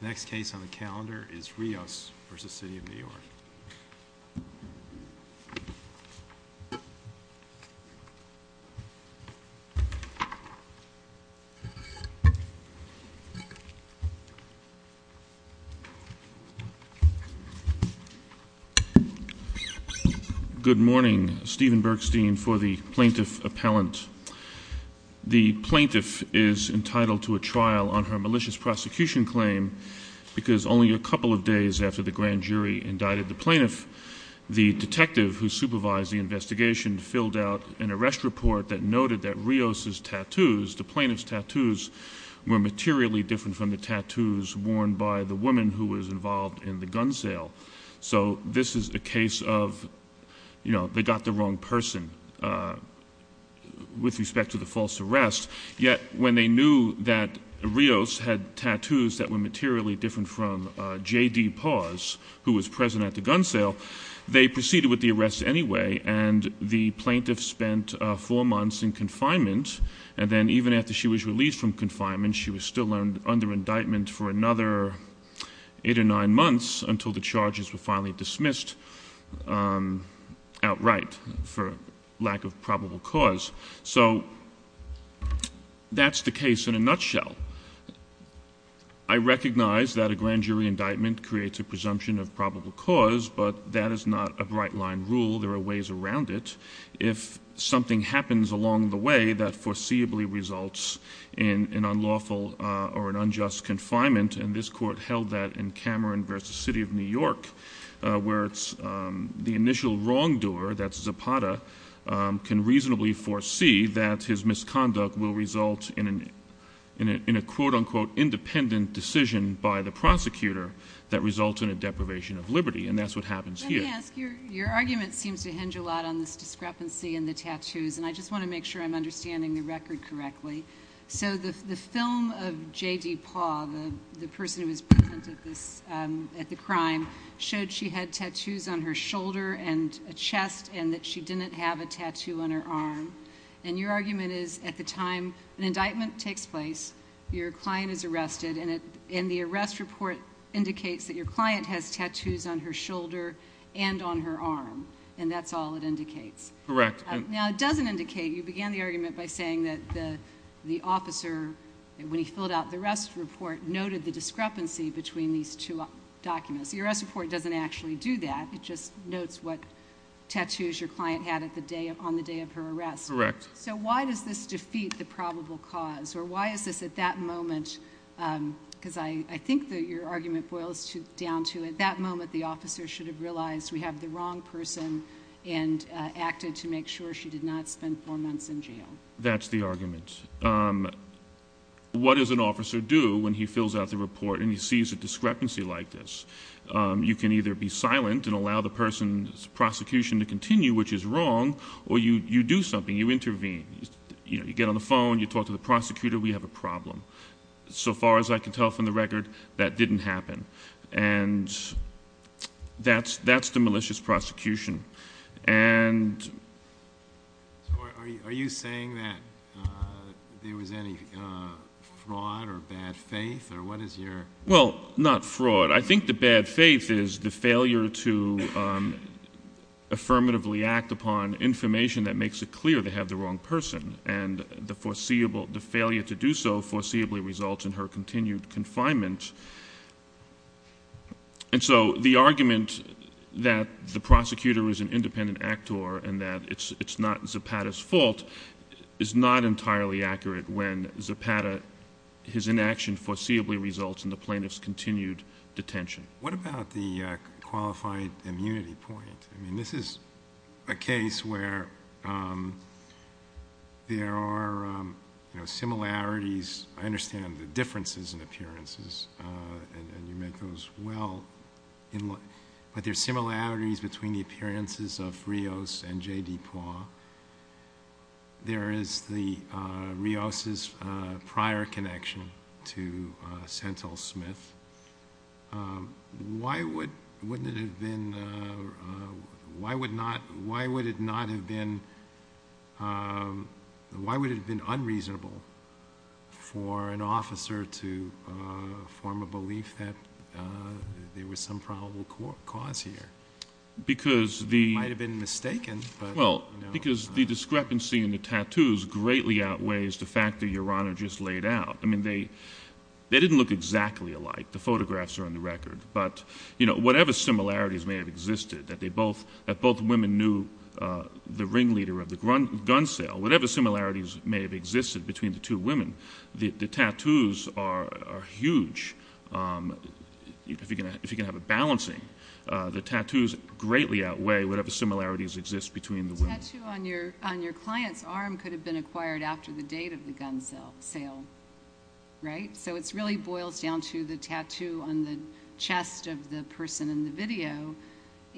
Next case on the calendar is Rios v. City of New York. Good morning, Stephen Bergstein for the Plaintiff Appellant. The plaintiff is on a prosecution claim because only a couple of days after the grand jury indicted the plaintiff, the detective who supervised the investigation filled out an arrest report that noted that Rios' tattoos, the plaintiff's tattoos, were materially different from the tattoos worn by the woman who was involved in the gun sale. So, this is a case of, you know, they got the wrong person with respect to the false arrest, yet when they knew that Rios had tattoos that were materially different from J.D. Paz, who was present at the gun sale, they proceeded with the arrest anyway and the plaintiff spent four months in confinement. And then even after she was released from confinement, she was still under indictment for another eight or nine months until the charges were finally dismissed outright for lack of probable cause. So, that's the case in a nutshell. I recognize that a grand jury indictment creates a presumption of probable cause, but that is not a bright line rule. There are ways around it. If something happens along the way that foreseeably results in an unlawful or an unjust confinement, and this court held that in Cameron v. City of New York, where it's the initial wrongdoer, that's Zapata, can reasonably foresee that his misconduct will result in a quote-unquote independent decision by the prosecutor that results in a deprivation of liberty. And that's what happens here. Let me ask. Your argument seems to hinge a lot on this discrepancy in the tattoos, and I just want to make sure I'm understanding the record correctly. So, the film of J.D. Paz, the person who was present at the crime, showed she had tattoos on her shoulder and a chest and that she didn't have a tattoo on her arm. And your argument is, at the time an indictment takes place, your client is arrested, and the arrest report indicates that your client has tattoos on her shoulder and on her arm, and that's all it indicates. Correct. Now, it doesn't indicate, you began the argument by saying that the officer, when he filled out the arrest report, noted the discrepancy between these two documents. The arrest report doesn't actually do that. It just notes what tattoos your client had on the day of her arrest. Correct. So, why does this defeat the probable cause, or why is this at that moment, because I think that your argument boils down to at that moment the officer should have realized we have the wrong person and acted to make sure she did not spend four months in jail. That's the argument. What does an officer do when he fills out the report and he sees a discrepancy like this? You can either be silent and allow the person's prosecution to continue, which is wrong, or you do something, you intervene. You know, you get on the phone, you talk to the prosecutor, we have a problem. So far as I can tell from the record, that didn't happen. And that's the malicious prosecution. So are you saying that there was any fraud or bad faith, or what is your... Well, not fraud. I think the bad faith is the failure to affirmatively act upon information that makes it clear they have the wrong person. And the failure to do so foreseeably results in her continued confinement. And so the argument that the prosecutor is an independent actor and that it's not Zapata's fault is not entirely accurate when Zapata, his inaction foreseeably results in the plaintiff's continued detention. What about the qualified immunity point? I mean, this is a case where there are similarities. I understand the differences in appearances, and you make those well. But there are similarities between the appearances of Rios and J.D. Poirot. There is Rios's prior connection to Sentel Smith. Why would it have been unreasonable for an officer to form a belief that there was some probable cause here? It might have been mistaken. Well, because the discrepancy in the tattoos greatly outweighs the fact that your Honor just laid out. I mean, they didn't look exactly alike. The photographs are on the record. But whatever similarities may have existed, that both women knew the ringleader of the gun sale, whatever similarities may have existed between the two women, the tattoos are huge. If you can have a balancing, the tattoos greatly outweigh whatever similarities exist between the women. The tattoo on your client's arm could have been acquired after the date of the gun sale, right? So it really boils down to the tattoo on the chest of the person in the video.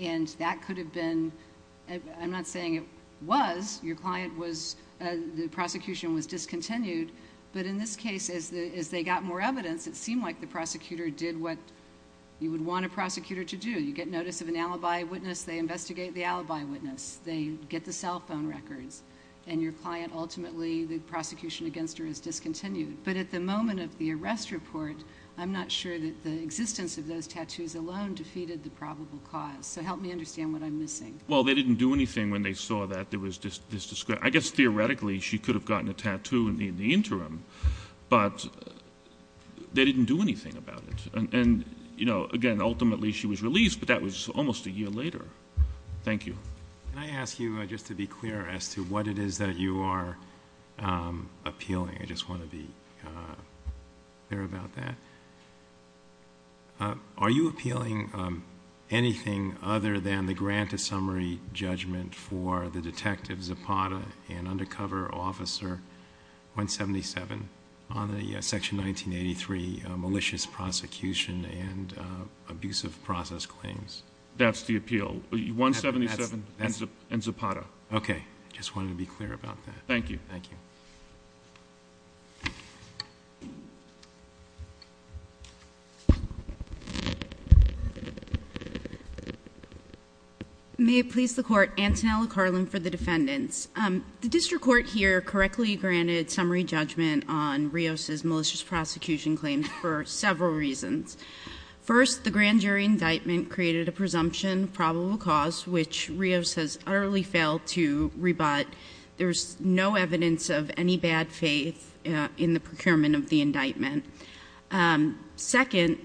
And that could have been—I'm not saying it was. Your client was—the prosecution was discontinued. But in this case, as they got more evidence, it seemed like the prosecutor did what you would want a prosecutor to do. You get notice of an alibi witness. They investigate the alibi witness. They get the cell phone records. And your client ultimately—the prosecution against her is discontinued. But at the moment of the arrest report, I'm not sure that the existence of those tattoos alone defeated the probable cause. So help me understand what I'm missing. Well, they didn't do anything when they saw that there was this—I guess theoretically she could have gotten a tattoo in the interim. But they didn't do anything about it. And, you know, again, ultimately she was released, but that was almost a year later. Thank you. Can I ask you just to be clear as to what it is that you are appealing? I just want to be clear about that. Are you appealing anything other than the grant of summary judgment for the Detective Zapata and Undercover Officer 177 on the Section 1983 malicious prosecution and abusive process claims? That's the appeal. 177 and Zapata. Okay. I just wanted to be clear about that. Thank you. Thank you. May it please the Court. Antonella Carlin for the defendants. The district court here correctly granted summary judgment on Rios' malicious prosecution claims for several reasons. First, the grand jury indictment created a presumption probable cause, which Rios has utterly failed to rebut. There's no evidence of any bad faith in the procurement of the indictment. Second,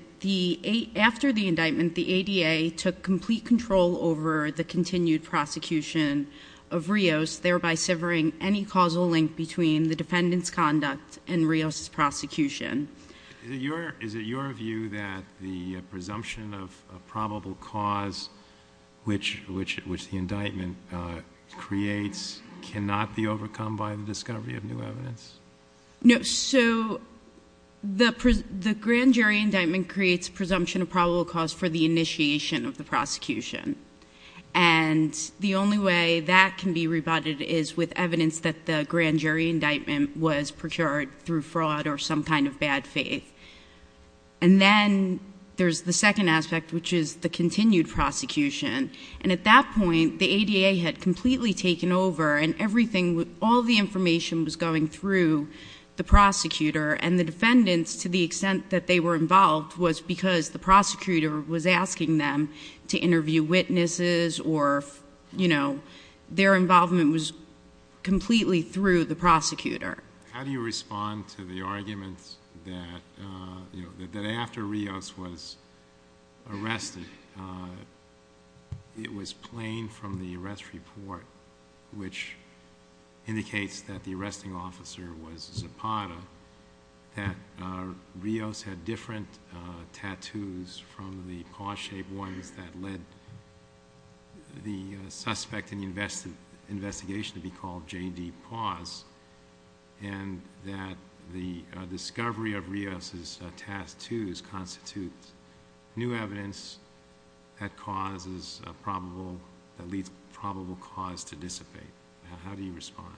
after the indictment, the ADA took complete control over the continued prosecution of Rios, thereby severing any causal link between the defendant's conduct and Rios' prosecution. Is it your view that the presumption of probable cause, which the indictment creates, cannot be overcome by the discovery of new evidence? No. So the grand jury indictment creates presumption of probable cause for the initiation of the prosecution. And the only way that can be rebutted is with evidence that the grand jury indictment was procured through fraud or some kind of bad faith. And then there's the second aspect, which is the continued prosecution. And at that point, the ADA had completely taken over, and everything, all the information was going through the prosecutor. And the defendants, to the extent that they were involved, was because the prosecutor was asking them to interview witnesses or, you know, their involvement was completely through the prosecutor. How do you respond to the argument that, you know, that after Rios was arrested, it was plain from the arrest report, which indicates that the arresting officer was Zapata, that Rios had different tattoos from the paw-shaped ones that led the suspect in the investigation to be called J.D. Paws, and that the discovery of Rios' tattoos constitutes new evidence that leads probable cause to dissipate? How do you respond?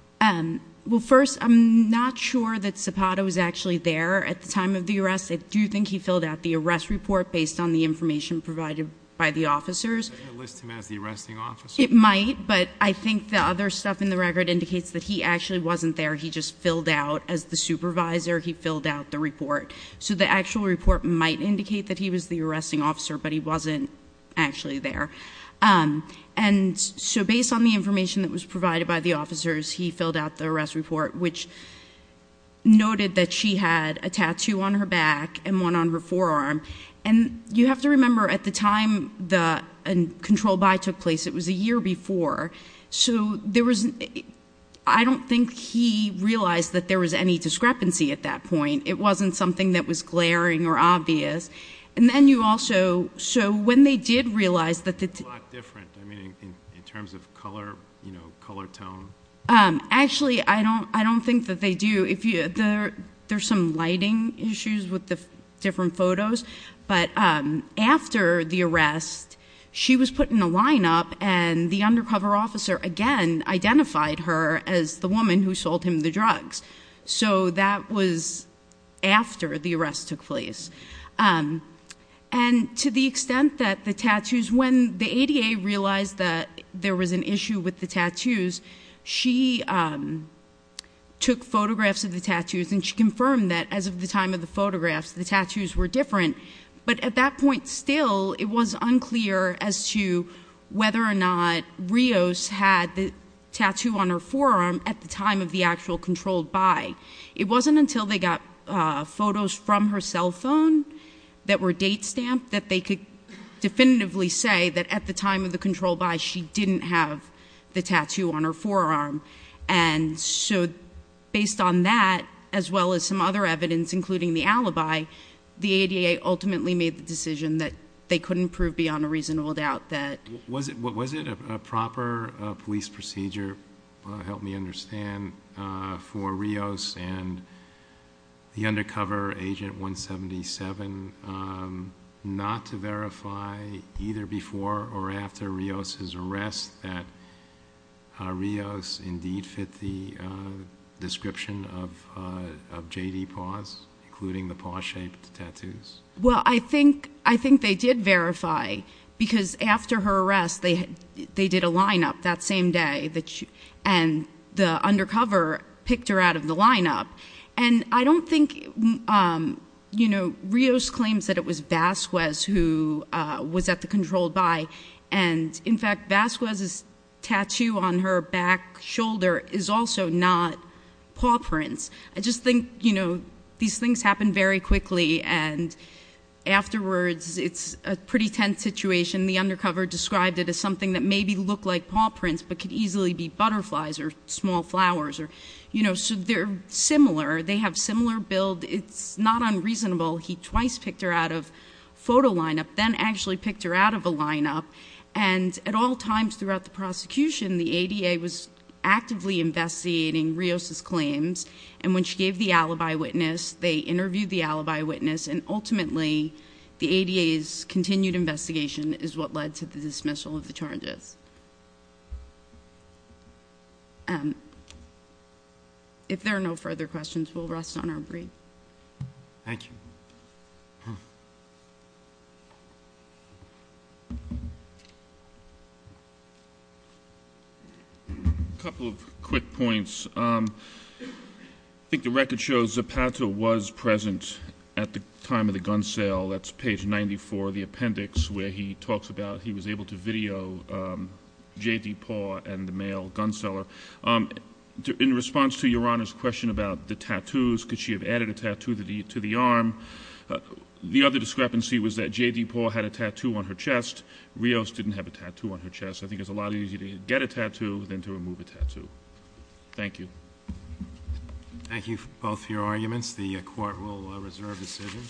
Well, first, I'm not sure that Zapata was actually there at the time of the arrest. I do think he filled out the arrest report based on the information provided by the officers. Is that going to list him as the arresting officer? It might, but I think the other stuff in the record indicates that he actually wasn't there. He just filled out, as the supervisor, he filled out the report. So the actual report might indicate that he was the arresting officer, but he wasn't actually there. And so based on the information that was provided by the officers, he filled out the arrest report, which noted that she had a tattoo on her back and one on her forearm. And you have to remember, at the time the control-by took place, it was a year before, so I don't think he realized that there was any discrepancy at that point. It wasn't something that was glaring or obvious. And then you also, so when they did realize that the- It's a lot different, I mean, in terms of color, you know, color tone. Actually, I don't think that they do. There's some lighting issues with the different photos. But after the arrest, she was put in a lineup, and the undercover officer, again, identified her as the woman who sold him the drugs. So that was after the arrest took place. And to the extent that the tattoos, when the ADA realized that there was an issue with the tattoos, she took photographs of the tattoos, and she confirmed that, as of the time of the photographs, the tattoos were different. But at that point still, it was unclear as to whether or not Rios had the tattoo on her forearm at the time of the actual controlled buy. It wasn't until they got photos from her cell phone that were date stamped that they could definitively say that at the time of the controlled buy, she didn't have the tattoo on her forearm. And so based on that, as well as some other evidence, including the alibi, the ADA ultimately made the decision that they couldn't prove beyond a reasonable doubt that- Was it a proper police procedure, help me understand, for Rios and the undercover agent 177 not to verify either before or after Rios' arrest that Rios indeed fit the description of J.D. Paws, including the paw-shaped tattoos? Well, I think they did verify, because after her arrest, they did a line-up that same day, and the undercover picked her out of the line-up. And I don't think, you know, Rios claims that it was Vasquez who was at the controlled buy, and, in fact, Vasquez's tattoo on her back shoulder is also not paw prints. I just think, you know, these things happen very quickly, and afterwards, it's a pretty tense situation. The undercover described it as something that maybe looked like paw prints but could easily be butterflies or small flowers. You know, so they're similar. They have similar build. It's not unreasonable. He twice picked her out of photo line-up, then actually picked her out of a line-up. And at all times throughout the prosecution, the ADA was actively investigating Rios' claims, and when she gave the alibi witness, they interviewed the alibi witness, and ultimately the ADA's continued investigation is what led to the dismissal of the charges. If there are no further questions, we'll rest on our breath. Thank you. A couple of quick points. I think the record shows Zapata was present at the time of the gun sale. That's page 94 of the appendix where he talks about he was able to video J.D. Paul and the male gun seller. In response to Your Honor's question about the tattoos, could she have added a tattoo to the arm, the other discrepancy was that J.D. Paul had a tattoo on her chest. Rios didn't have a tattoo on her chest. I think it's a lot easier to get a tattoo than to remove a tattoo. Thank you. Thank you both for your arguments. The Court will reserve decision.